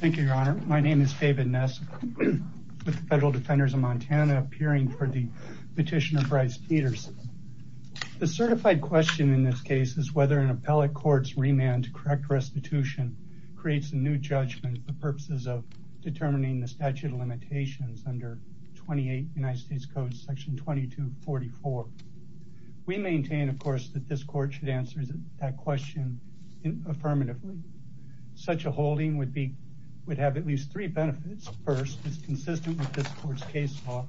Thank you, Your Honor. My name is David Ness with the Federal Defenders of Montana, appearing for the petition of Bryce Peterson. The certified question in this case is whether an appellate court's remand to correct restitution creates a new judgment for purposes of determining the statute of limitations under 28 United States Code section 2244. We maintain, of course, that this court should answer that question affirmatively. Such a holding would have at least three benefits. First, it's consistent with this court's case law.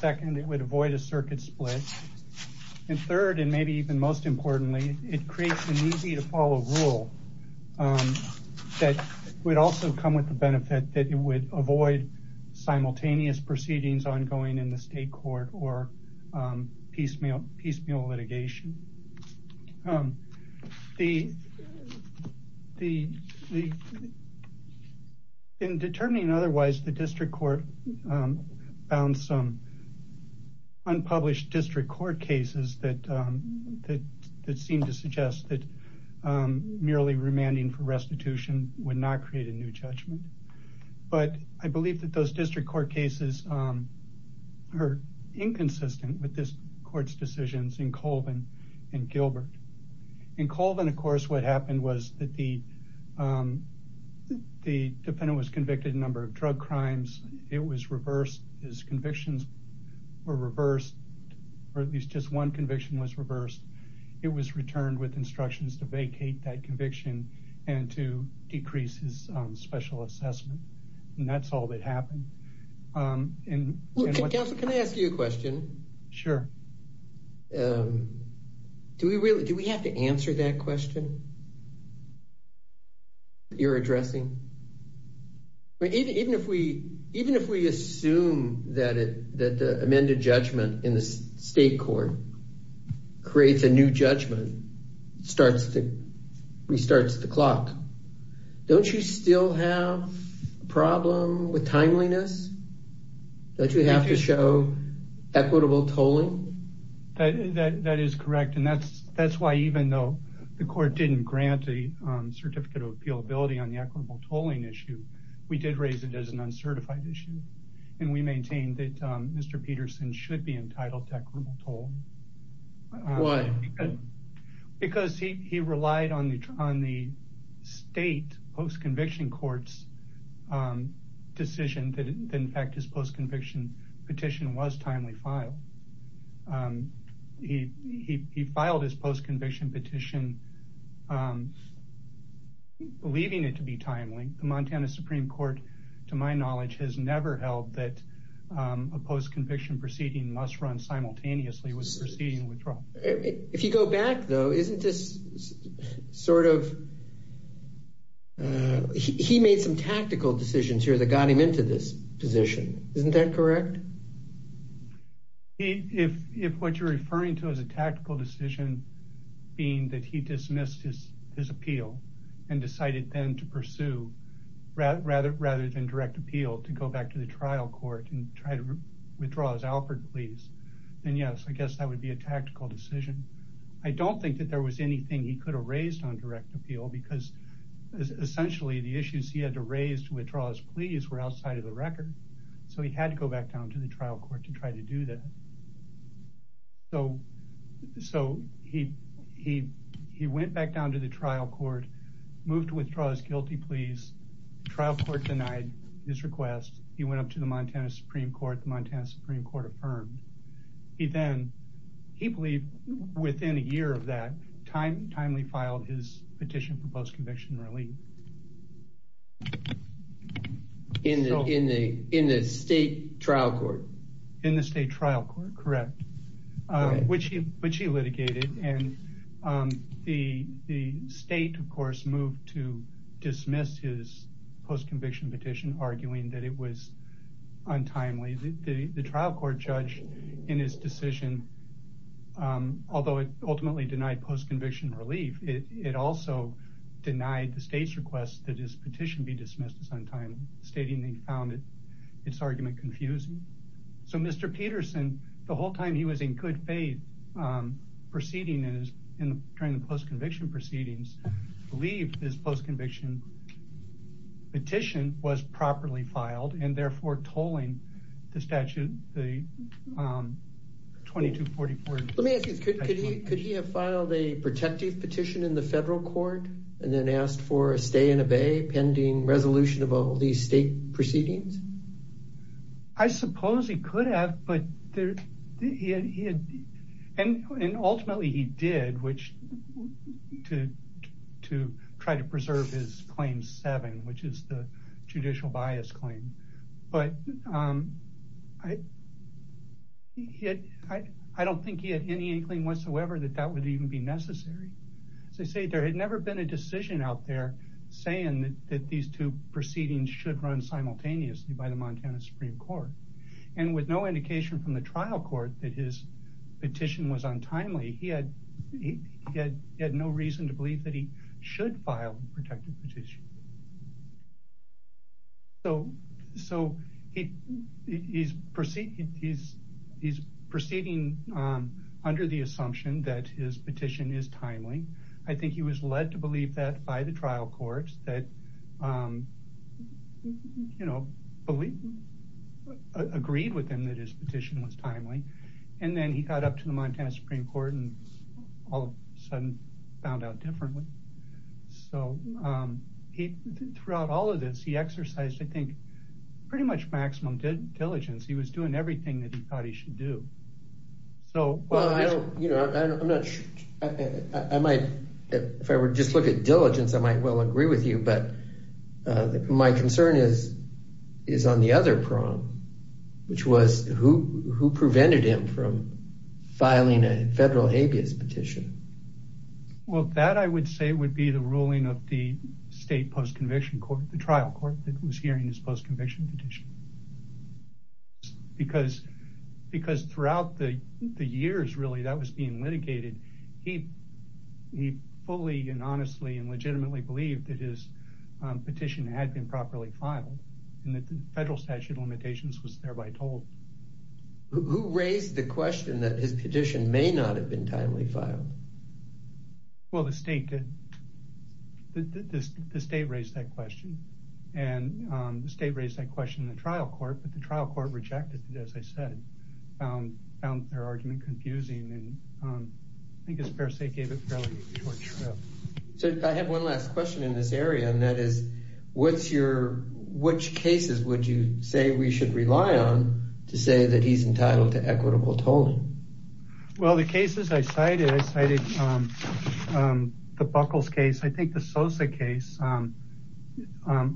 Second, it would avoid a circuit split. And third, and maybe even most importantly, it creates an easy-to-follow rule that would also come with the benefit that it would avoid simultaneous proceedings ongoing in the state court or piecemeal litigation. In determining otherwise, the district court found some unpublished district court cases that seemed to suggest that merely remanding for restitution would not create a new judgment. But I believe that those district court cases are inconsistent with this court's decisions in Colvin and Gilbert. In Colvin, of course, what happened was that the defendant was convicted a number of drug crimes. It was reversed. His convictions were reversed, or at least just one conviction was reversed. It was returned with instructions to vacate that conviction and to decrease his special assessment. And that's all that happened. Counsel, can I ask you a question? Sure. Do we have to answer that question? Even if we assume that the amended judgment in the state court creates a new judgment, restarts the clock, don't you still have a problem with timeliness? Don't you have to show equitable tolling? That is correct. And that's why even though the court didn't grant a certificate of appealability on the equitable tolling issue, we did raise it as an uncertified issue. And we maintained that Mr. Peterson should be entitled to equitable tolling. Why? Because he relied on the state post-conviction court's decision that in fact his post-conviction petition was timely filed. He filed his post-conviction petition believing it to be timely. The Montana Supreme Court, to my knowledge, has never held that a post-conviction proceeding must run simultaneously with proceeding withdrawal. If you go back, though, isn't this sort of... He made some tactical decisions here that got him into this position. Isn't that correct? If what you're referring to as a tactical decision being that he dismissed his appeal and decided then to pursue, rather than direct appeal, to go back to the trial court and try to withdraw his Alfred pleas, then yes, I guess that would be a tactical decision. I don't think that there was anything he could have raised on direct appeal because essentially the issues he had to raise to withdraw his pleas were outside of the record. So he had to go back down to the trial court to try to do that. So he went back down to the trial court, moved to withdraw his guilty pleas. The trial court denied his request. He went up to the Montana Supreme Court. The Montana Supreme Court affirmed. He then, he believed within a year of that, timely filed his petition for post-conviction relief. In the state trial court? In the state trial court, correct, which he litigated. And the state, of course, moved to dismiss his post-conviction petition, arguing that it was untimely. The trial court judge in his decision, although it ultimately denied post-conviction relief, it also denied the state's request that his petition be dismissed as untimely, stating they found its argument confusing. So Mr. Peterson, the whole time he was in good faith proceeding during the post-conviction proceedings, believed his post-conviction petition was properly filed and therefore tolling the statute, the 2244. Let me ask you, could he have filed a protective petition in the federal court and then asked for a stay and obey pending resolution of all these state proceedings? I suppose he could have, but ultimately he did, to try to preserve his claim seven, which is the judicial bias claim. But I don't think he had any inkling whatsoever that that would even be necessary. As I say, there had never been a decision out there saying that these two proceedings should run simultaneously by the Montana Supreme Court. And with no indication from the trial court that his petition was untimely, he had no reason to believe that he should file a protective petition. So he's proceeding under the assumption that his petition is timely. I think he was led to believe that by the trial court that agreed with him that his petition was timely. And then he got up to the Montana Supreme Court and all of a sudden found out differently. So he, throughout all of this, he exercised, I think, pretty much maximum diligence. He was doing everything that he thought he should do. So, well, I don't, you know, I'm not, I might, if I were to just look at diligence, I might well agree with you. But my concern is, is on the other prong, which was who, who prevented him from filing a federal habeas petition? Well, that I would say would be the ruling of the state post-conviction court, the trial court that was hearing his post-conviction petition. Because, because throughout the years, really, that was being litigated. He, he fully and honestly and legitimately believed that his petition had been properly filed and that the federal statute of limitations was thereby told. Who raised the question that his petition may not have been timely filed? Well, the state did. The state raised that question. And the state raised that question in the trial court, but the trial court rejected it, as I said, found their argument confusing. And I think his fair state gave it fairly short shrift. So I have one last question in this area, and that is, what's your, which cases would you say we should rely on to say that he's entitled to equitable tolling? Well, the cases I cited, I cited the Buckles case, I think the Sosa case.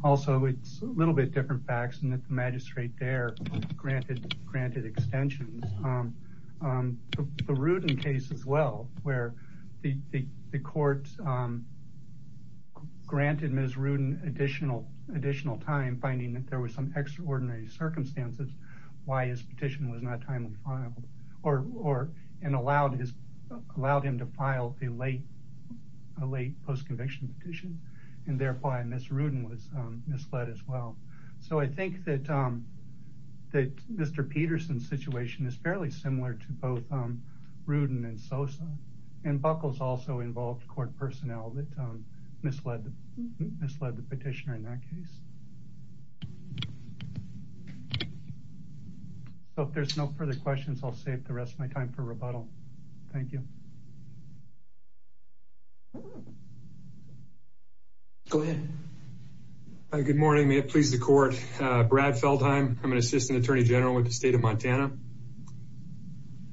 Also, it's a little bit different facts and that the magistrate there granted, granted extensions. The Rudin case as well, where the court granted Ms. Rudin additional, additional time, finding that there was some extraordinary circumstances. Why his petition was not timely filed or, or, and allowed his, allowed him to file a late, late post-conviction petition. And therefore, Ms. Rudin was misled as well. So I think that, that Mr. Peterson's situation is fairly similar to both Rudin and Sosa. And Buckles also involved court personnel that misled, misled the petitioner in that case. So if there's no further questions, I'll save the rest of my time for rebuttal. Thank you. Go ahead. Good morning. May it please the court. Brad Feldheim. I'm an assistant attorney general with the state of Montana.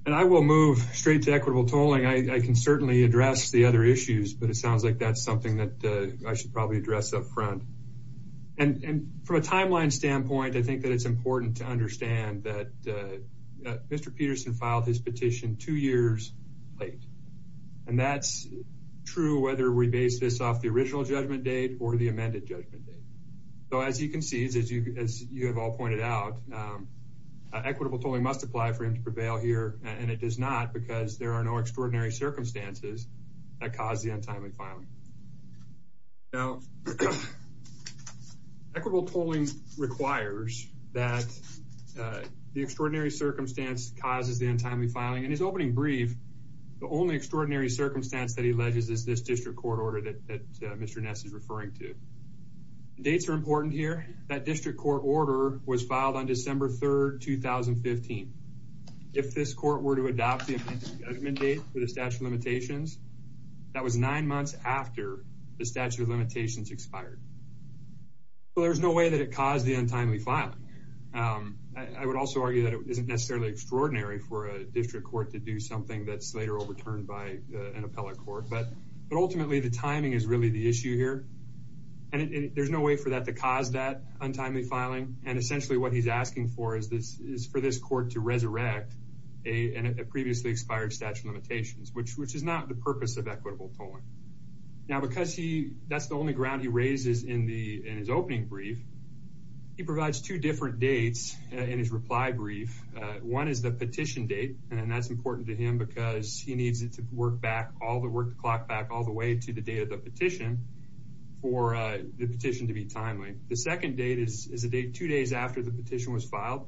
And I will move straight to equitable tolling. I can certainly address the other issues, but it sounds like that's something that I should probably address up front. And from a timeline standpoint, I think that it's important to understand that Mr. Peterson filed his petition two years late. And that's true, whether we base this off the original judgment date or the amended judgment date. So as he concedes, as you, as you have all pointed out, equitable tolling must apply for him to prevail here. And it does not because there are no extraordinary circumstances that caused the untimely filing. Now, equitable tolling requires that the extraordinary circumstance causes the untimely filing. In his opening brief, the only extraordinary circumstance that he alleges is this district court order that Mr. Ness is referring to. Dates are important here. That district court order was filed on December 3rd, 2015. If this court were to adopt the amended judgment date for the statute of limitations, that was nine months after the statute of limitations expired. Well, there's no way that it caused the untimely filing. I would also argue that it isn't necessarily extraordinary for a district court to do something that's later overturned by an appellate court. But ultimately, the timing is really the issue here. And there's no way for that to cause that untimely filing. And essentially what he's asking for is for this court to resurrect a previously expired statute of limitations, which is not the purpose of equitable tolling. Now, because that's the only ground he raises in his opening brief, he provides two different dates in his reply brief. One is the petition date, and that's important to him because he needs it to work back, all the work to clock back all the way to the date of the petition. For the petition to be timely. The second date is the date two days after the petition was filed.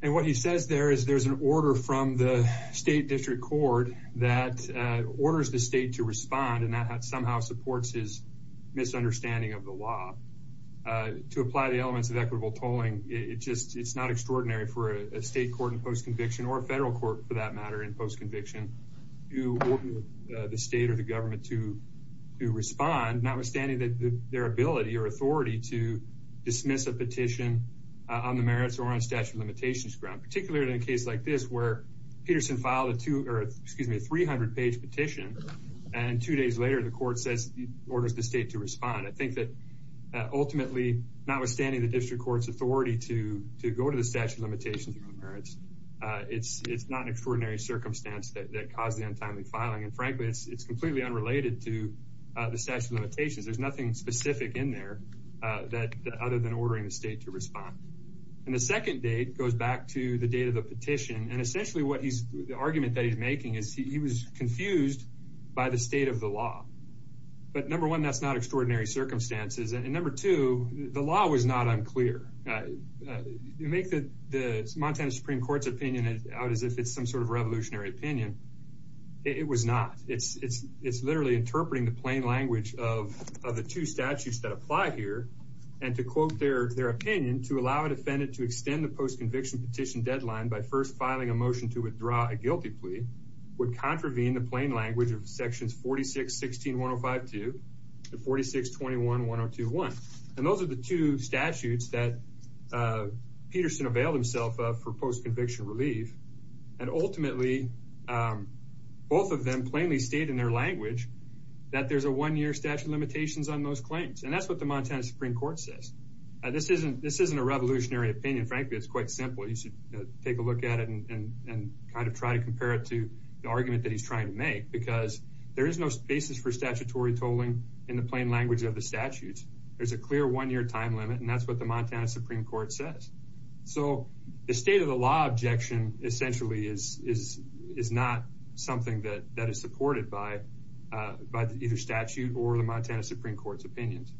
And what he says there is there's an order from the state district court that orders the state to respond, and that somehow supports his misunderstanding of the law. To apply the elements of equitable tolling, it's not extraordinary for a state court in post-conviction, or a federal court for that matter in post-conviction, to order the state or the government to respond, notwithstanding their ability or authority to dismiss a petition on the merits or on statute of limitations ground. Particularly in a case like this where Peterson filed a 300-page petition, and two days later the court orders the state to respond. I think that ultimately, notwithstanding the district court's authority to go to the statute of limitations on the merits, it's not an extraordinary circumstance that caused the untimely filing. And frankly, it's completely unrelated to the statute of limitations. There's nothing specific in there other than ordering the state to respond. And the second date goes back to the date of the petition, and essentially the argument that he's making is he was confused by the state of the law. But number one, that's not extraordinary circumstances. And number two, the law was not unclear. You make the Montana Supreme Court's opinion out as if it's some sort of revolutionary opinion. It was not. It's literally interpreting the plain language of the two statutes that apply here, and to quote their opinion, to allow a defendant to extend the post-conviction petition deadline by first filing a motion to withdraw a guilty plea, would contravene the plain language of sections 46-16-1052 and 46-21-1021. And those are the two statutes that Peterson availed himself of for post-conviction relief. And ultimately, both of them plainly state in their language that there's a one-year statute of limitations on those claims. And that's what the Montana Supreme Court says. This isn't a revolutionary opinion. Frankly, it's quite simple. You should take a look at it and kind of try to compare it to the argument that he's trying to make, because there is no basis for statutory tolling in the plain language of the statutes. There's a clear one-year time limit, and that's what the Montana Supreme Court says. So the state-of-the-law objection essentially is not something that is supported by either statute or the Montana Supreme Court's opinions.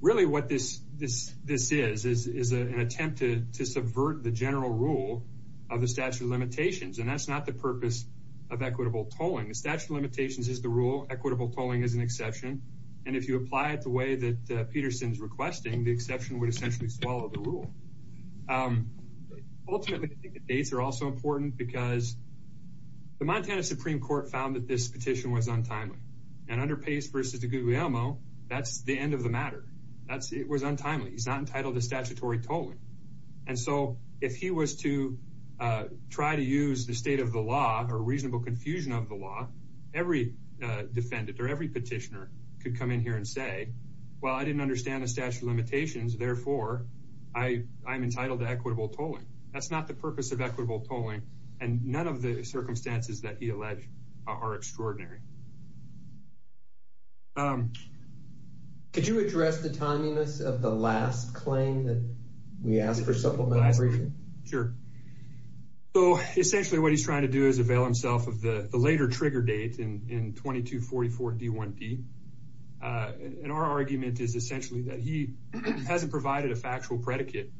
Really what this is is an attempt to subvert the general rule of the statute of limitations, and that's not the purpose of equitable tolling. The statute of limitations is the rule. Equitable tolling is an exception. And if you apply it the way that Peterson is requesting, the exception would essentially swallow the rule. Ultimately, I think the dates are also important because the Montana Supreme Court found that this petition was untimely. And under Pace v. DiGuglielmo, that's the end of the matter. It was untimely. He's not entitled to statutory tolling. And so if he was to try to use the state-of-the-law or reasonable confusion of the law, every defendant or every petitioner could come in here and say, well, I didn't understand the statute of limitations, therefore I'm entitled to equitable tolling. That's not the purpose of equitable tolling, and none of the circumstances that he alleged are extraordinary. Could you address the timeliness of the last claim that we asked for supplemental briefing? Sure. So essentially what he's trying to do is avail himself of the later trigger date in 2244 D1D. And our argument is essentially that he hasn't provided a factual predicate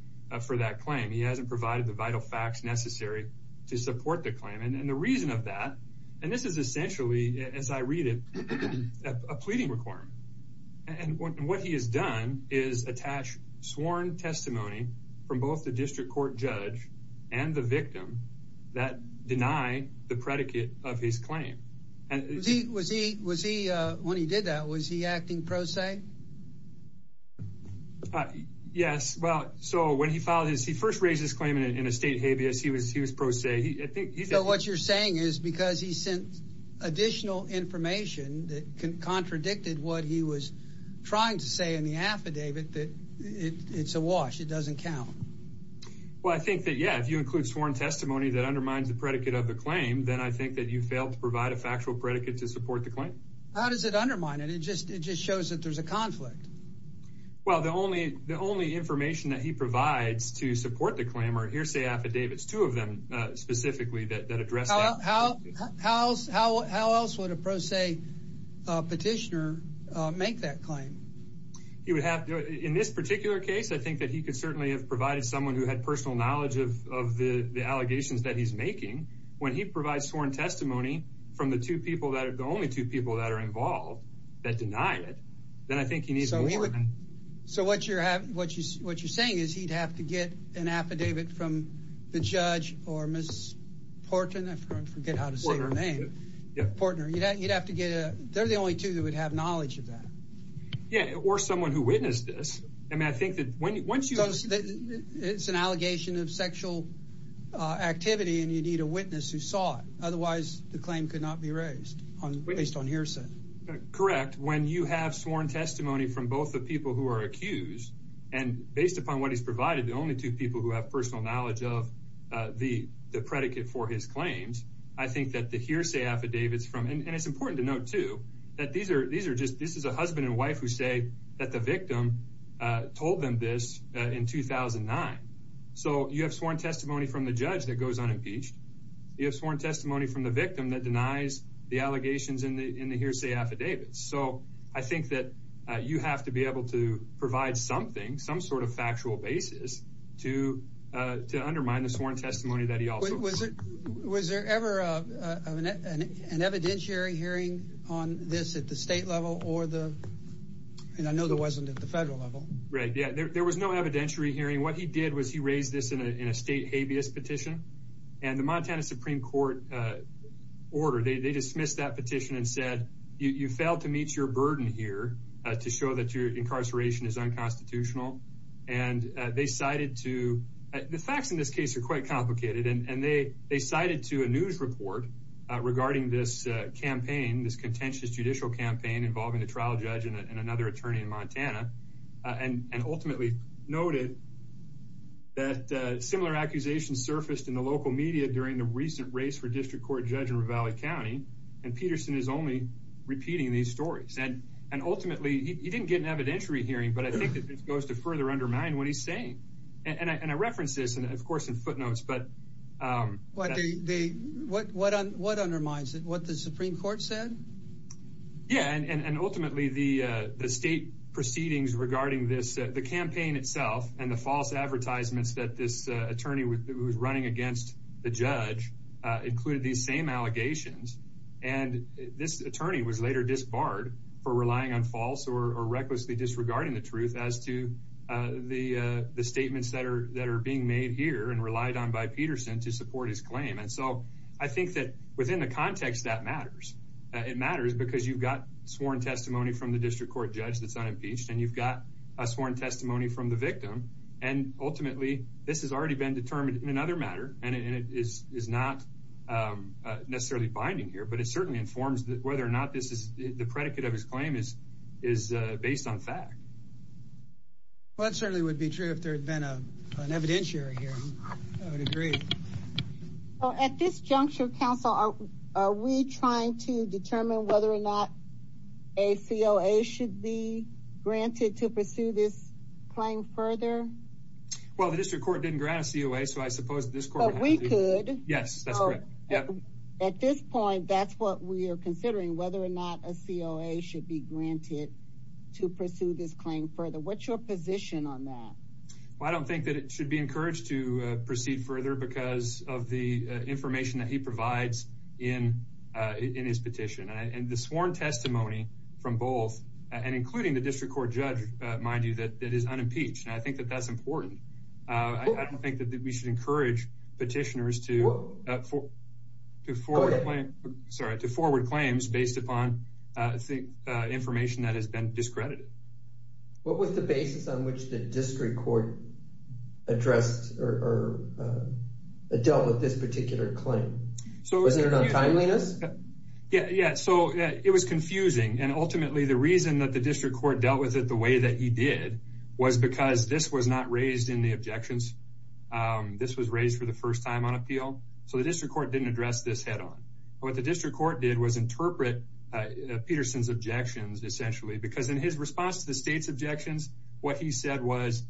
for that claim. He hasn't provided the vital facts necessary to support the claim. And the reason of that, and this is essentially, as I read it, a pleading requirement. And what he has done is attach sworn testimony from both the district court judge and the victim that deny the predicate of his claim. Was he, when he did that, was he acting pro se? Yes. Well, so when he filed his, he first raised his claim in a state habeas. He was pro se. So what you're saying is because he sent additional information that contradicted what he was trying to say in the affidavit that it's a wash, it doesn't count. Well, I think that, yeah, if you include sworn testimony that undermines the predicate of the claim, then I think that you failed to provide a factual predicate to support the claim. How does it undermine it? It just shows that there's a conflict. Well, the only the only information that he provides to support the claim are hearsay affidavits. Two of them specifically that address how, how, how, how, how else would a pro se petitioner make that claim? He would have in this particular case, I think that he could certainly have provided someone who had personal knowledge of the allegations that he's making. When he provides sworn testimony from the two people that are the only two people that are involved that denied it, then I think he needs. So what you're having, what you what you're saying is he'd have to get an affidavit from the judge or Miss Portman. I forget how to say her name. Yeah, partner. You'd have to get a they're the only two that would have knowledge of that. Yeah. Or someone who witnessed this. I mean, I think that when once you know that it's an allegation of sexual activity and you need a witness who saw it. Otherwise, the claim could not be raised based on hearsay. Correct. When you have sworn testimony from both the people who are accused and based upon what he's provided, the only two people who have personal knowledge of the the predicate for his claims. I think that the hearsay affidavits from and it's important to note, too, that these are these are just this is a husband and wife who say that the victim told them this in 2009. So you have sworn testimony from the judge that goes unimpeached. You have sworn testimony from the victim that denies the allegations in the in the hearsay affidavits. So I think that you have to be able to provide something, some sort of factual basis to to undermine the sworn testimony that he also was. Was it was there ever an evidentiary hearing on this at the state level or the and I know there wasn't at the federal level. Right. Yeah. There was no evidentiary hearing. What he did was he raised this in a state habeas petition and the Montana Supreme Court order. They dismissed that petition and said, you failed to meet your burden here to show that your incarceration is unconstitutional. And they cited to the facts in this case are quite complicated. And they they cited to a news report regarding this campaign, this contentious judicial campaign involving the trial judge and another attorney in Montana. And ultimately noted. That similar accusations surfaced in the local media during the recent race for district court judge in Ravalli County. And Peterson is only repeating these stories. And and ultimately, he didn't get an evidentiary hearing. But I think it goes to further undermine what he's saying. And I reference this, of course, in footnotes. But what they what what what undermines what the Supreme Court said? Yeah. And ultimately, the state proceedings regarding this, the campaign itself and the false advertisements that this attorney was running against the judge included these same allegations. And this attorney was later disbarred for relying on false or recklessly disregarding the truth as to the statements that are that are being made here and relied on by Peterson to support his claim. And so I think that within the context that matters, it matters because you've got sworn testimony from the district court judge that's unimpeached and you've got a sworn testimony from the victim. And ultimately, this has already been determined in another matter. And it is is not necessarily binding here. But it certainly informs whether or not this is the predicate of his claim is is based on fact. Well, it certainly would be true if there had been an evidentiary hearing. I would agree. At this juncture, counsel, are we trying to determine whether or not a COA should be granted to pursue this claim further? Well, the district court didn't grant a COA, so I suppose this court we could. Yes, that's right. At this point, that's what we are considering, whether or not a COA should be granted to pursue this claim further. What's your position on that? Well, I don't think that it should be encouraged to proceed further because of the information that he provides in in his petition and the sworn testimony from both and including the district court judge. Mind you, that that is unimpeached. And I think that that's important. I don't think that we should encourage petitioners to to forward. Sorry to forward claims based upon information that has been discredited. What was the basis on which the district court addressed or dealt with this particular claim? So is there no timeliness? Yeah. Yeah. So it was confusing. And ultimately, the reason that the district court dealt with it the way that he did was because this was not raised in the objections. This was raised for the first time on appeal. So the district court didn't address this head on. What the district court did was interpret Peterson's objections, essentially, because in his response to the state's objections, what he said was,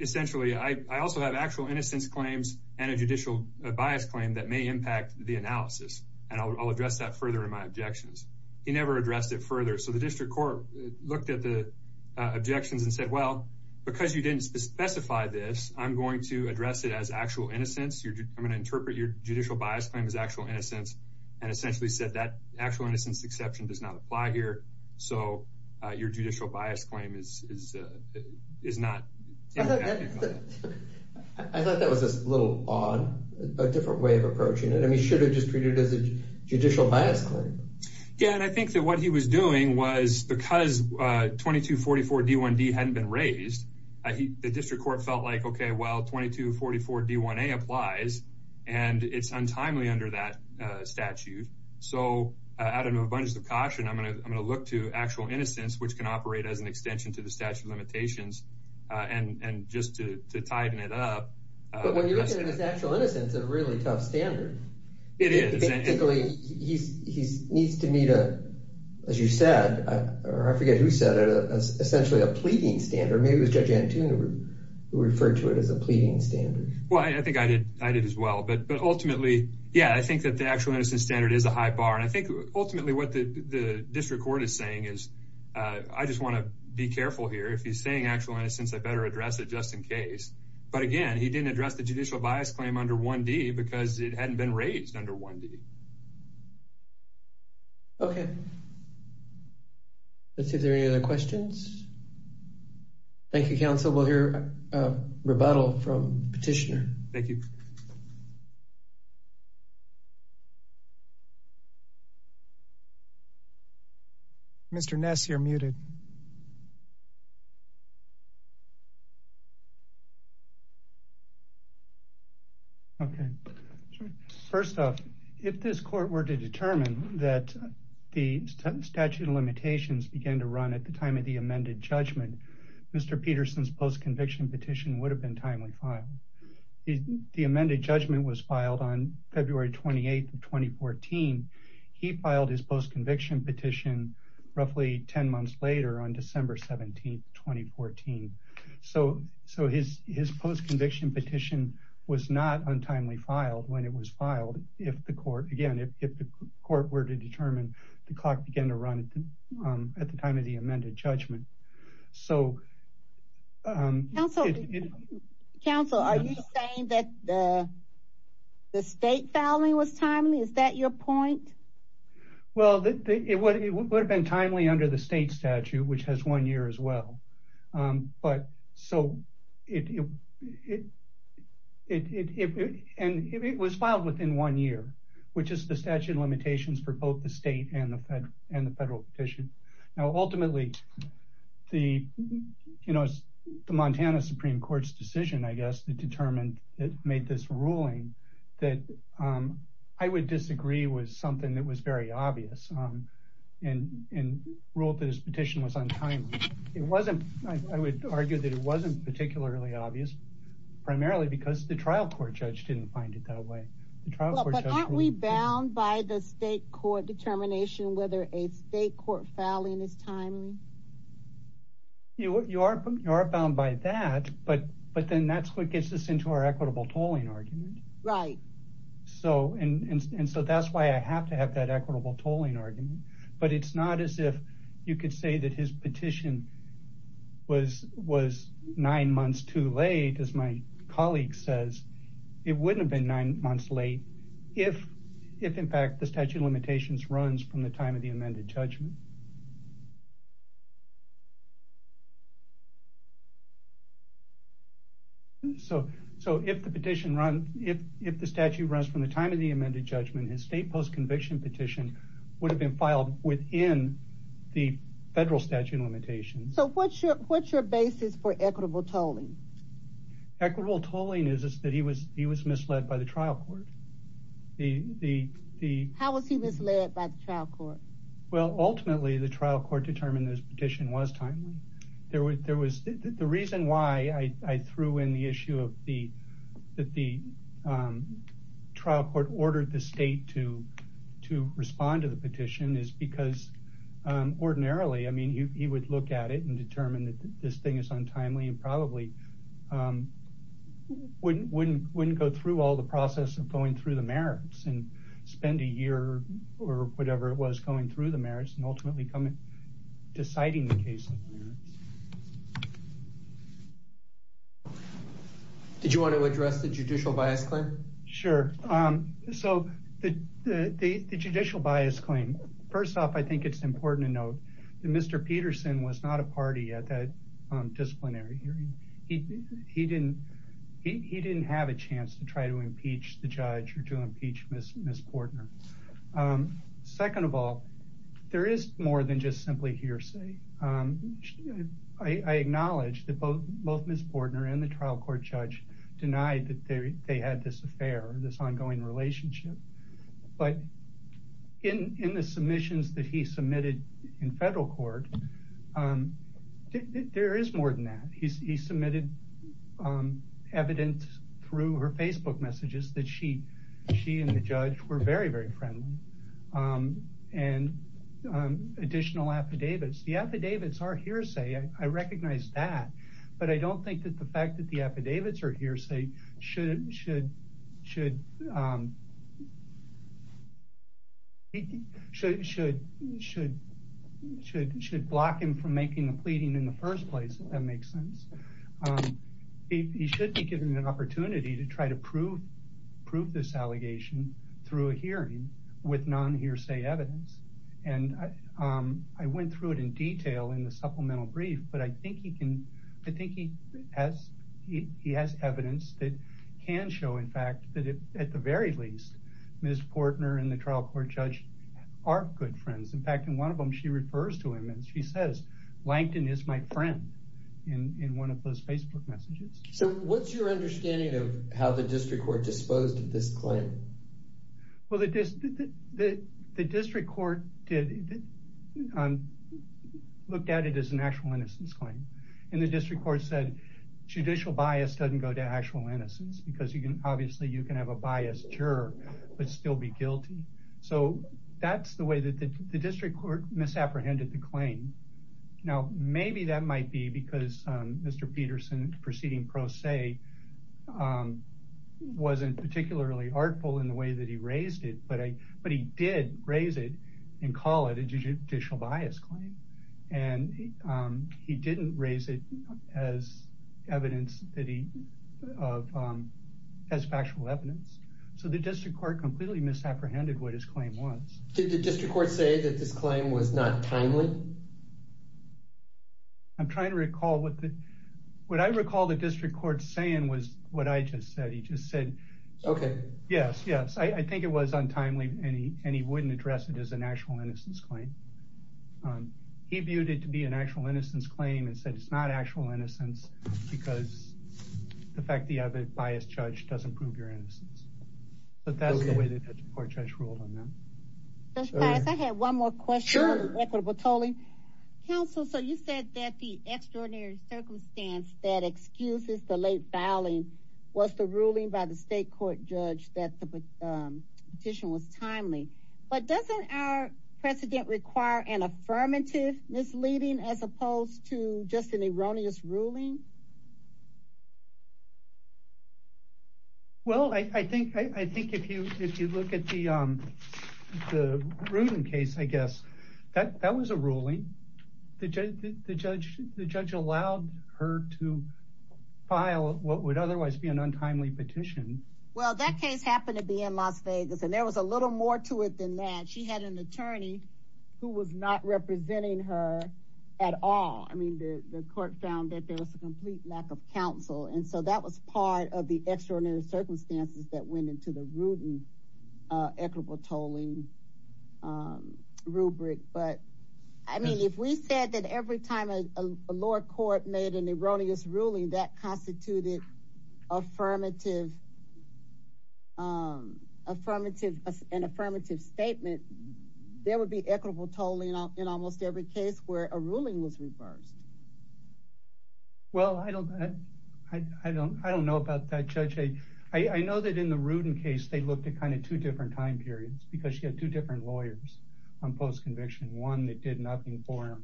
essentially, I also have actual innocence claims and a judicial bias claim that may impact the analysis. And I'll address that further in my objections. He never addressed it further. So the district court looked at the objections and said, well, because you didn't specify this, I'm going to address it as actual innocence. You're going to interpret your judicial bias claim as actual innocence and essentially said that actual innocence exception does not apply here. So your judicial bias claim is is is not. I thought that was a little odd, a different way of approaching it. I mean, you should have just treated it as a judicial bias claim. Yeah. And I think that what he was doing was because 2244 D1D hadn't been raised, the district court felt like, OK, well, 2244 D1A applies and it's untimely under that statute. So out of a bunch of caution, I'm going to I'm going to look to actual innocence, which can operate as an extension to the statute of limitations. And just to tighten it up. But when you look at his actual innocence, a really tough standard. It is. He's he's needs to meet a, as you said, or I forget who said it, essentially a pleading standard. Maybe it was Judge Antuneau who referred to it as a pleading standard. Well, I think I did. I did as well. But but ultimately, yeah, I think that the actual innocence standard is a high bar. And I think ultimately what the district court is saying is I just want to be careful here. If he's saying actual innocence, I better address it just in case. But again, he didn't address the judicial bias claim under 1D because it hadn't been raised under 1D. OK. Let's see if there are any other questions. Thank you, counsel. We'll hear a rebuttal from petitioner. Thank you. Mr. Ness, you're muted. OK. First off, if this court were to determine that the statute of limitations began to run at the time of the amended judgment, Mr. Peterson's post conviction petition would have been timely. The amended judgment was filed on February 28th of 2014. He filed his post conviction petition roughly 10 months later on December 17th, 2014. So so his his post conviction petition was not untimely filed when it was filed. If the court again, if the court were to determine the clock began to run at the time of the amended judgment. So. Counsel, are you saying that the state filing was timely? Is that your point? Well, it would have been timely under the state statute, which has one year as well. But so it it it and it was filed within one year, which is the statute of limitations for both the state and the fed and the federal petition. Now, ultimately, the, you know, the Montana Supreme Court's decision, I guess, determined it made this ruling that I would disagree with something that was very obvious and ruled this petition was untimely. It wasn't. I would argue that it wasn't particularly obvious, primarily because the trial court judge didn't find it that way. We bound by the state court determination whether a state court filing is timely. You are you are bound by that, but but then that's what gets us into our equitable tolling argument. So and so that's why I have to have that equitable tolling argument, but it's not as if you could say that his petition was was nine months too late. As my colleague says, it wouldn't have been nine months late if if, in fact, the statute of limitations runs from the time of the amended judgment. So so if the petition run, if if the statute runs from the time of the amended judgment, his state post conviction petition would have been filed within the federal statute of limitations. So what's your what's your basis for equitable tolling? Equitable tolling is that he was he was misled by the trial court. The the how was he misled by the trial court? Well, ultimately, the trial court determined this petition was timely. There was there was the reason why I threw in the issue of the that the trial court ordered the state to to respond to the petition is because ordinarily, I mean, he would look at it and determine that this thing is untimely and probably. Wouldn't wouldn't wouldn't go through all the process of going through the merits and spend a year or whatever it was going through the merits and ultimately come in deciding the case. Did you want to address the judicial bias claim? Sure. So the judicial bias claim. First off, I think it's important to note that Mr. Peterson was not a party at that disciplinary hearing. He didn't he didn't have a chance to try to impeach the judge or to impeach Miss Miss Portner. Second of all, there is more than just simply hearsay. I acknowledge that both both Miss Portner and the trial court judge denied that they had this affair, this ongoing relationship. But in the submissions that he submitted in federal court, there is more than that. He submitted evidence through her Facebook messages that she she and the judge were very, very friendly and additional affidavits. The affidavits are hearsay. I recognize that. But I don't think that the fact that the affidavits are hearsay should should should. Should should should should should block him from making a pleading in the first place. That makes sense. He should be given an opportunity to try to prove prove this allegation through a hearing with non hearsay evidence. And I went through it in detail in the supplemental brief. But I think he can I think he has he has evidence that can show, in fact, that at the very least, Miss Portner and the trial court judge are good friends. In fact, in one of them, she refers to him and she says, Langton is my friend in one of those Facebook messages. So what's your understanding of how the district court disposed of this claim? Well, the the the district court did look at it as an actual innocence claim, and the district court said judicial bias doesn't go to actual innocence because you can obviously you can have a biased juror, but still be guilty. So that's the way that the district court misapprehended the claim. Now, maybe that might be because Mr. Peterson proceeding pro se wasn't particularly artful in the way that he raised it. But I but he did raise it and call it a judicial bias claim. And he didn't raise it as evidence that he of as factual evidence. So the district court completely misapprehended what his claim was. Did the district court say that this claim was not timely? I'm trying to recall what the what I recall the district court saying was what I just said. He just said, OK, yes, yes, I think it was untimely. And he wouldn't address it as an actual innocence claim. He viewed it to be an actual innocence claim and said it's not actual innocence because the fact the other biased judge doesn't prove your innocence. But that's the way the district court judge ruled on that. I had one more question. Counsel, so you said that the extraordinary circumstance that excuses the late filing was the ruling by the state court judge that the petition was timely. But doesn't our president require an affirmative misleading as opposed to just an erroneous ruling? Well, I think I think if you if you look at the the case, I guess that that was a ruling. The judge, the judge, the judge allowed her to file what would otherwise be an untimely petition. Well, that case happened to be in Las Vegas and there was a little more to it than that. She had an attorney who was not representing her at all. I mean, the court found that there was a complete lack of counsel. And so that was part of the extraordinary circumstances that went into the rude and equitable tolling rubric. But I mean, if we said that every time a lower court made an erroneous ruling that constituted affirmative. Affirmative, an affirmative statement, there would be equitable tolling in almost every case where a ruling was reversed. Well, I don't I don't I don't know about that, Judge. I know that in the Rudin case, they looked at kind of two different time periods because she had two different lawyers on post conviction. One that did nothing for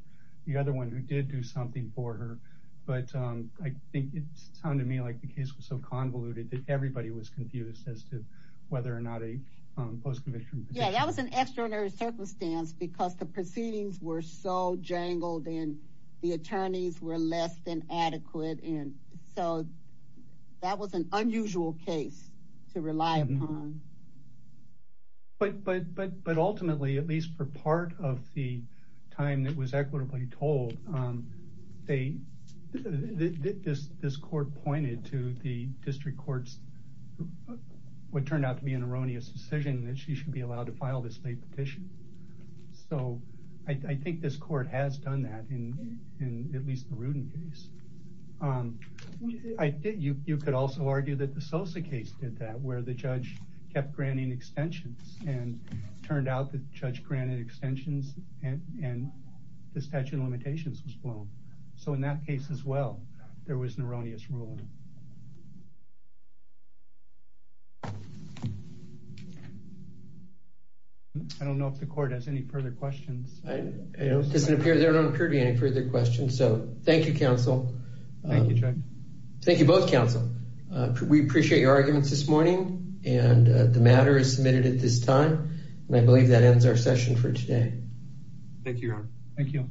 the other one who did do something for her. But I think it sounded to me like the case was so convoluted that everybody was confused as to whether or not a post conviction. Yeah, that was an extraordinary circumstance because the proceedings were so jangled and the attorneys were less than adequate. And so that was an unusual case to rely on. But but but but ultimately, at least for part of the time that was equitably told, they did this. This court pointed to the district courts would turn out to be an erroneous decision that she should be allowed to file this state petition. So I think this court has done that in at least the Rudin case. I think you could also argue that the Sosa case did that, where the judge kept granting extensions and turned out the judge granted extensions and the statute of limitations was blown. So in that case as well, there was an erroneous ruling. I don't know if the court has any further questions. There don't appear to be any further questions. So thank you, counsel. Thank you. Thank you both, counsel. We appreciate your arguments this morning. And the matter is submitted at this time. And I believe that ends our session for today. Thank you. Thank you.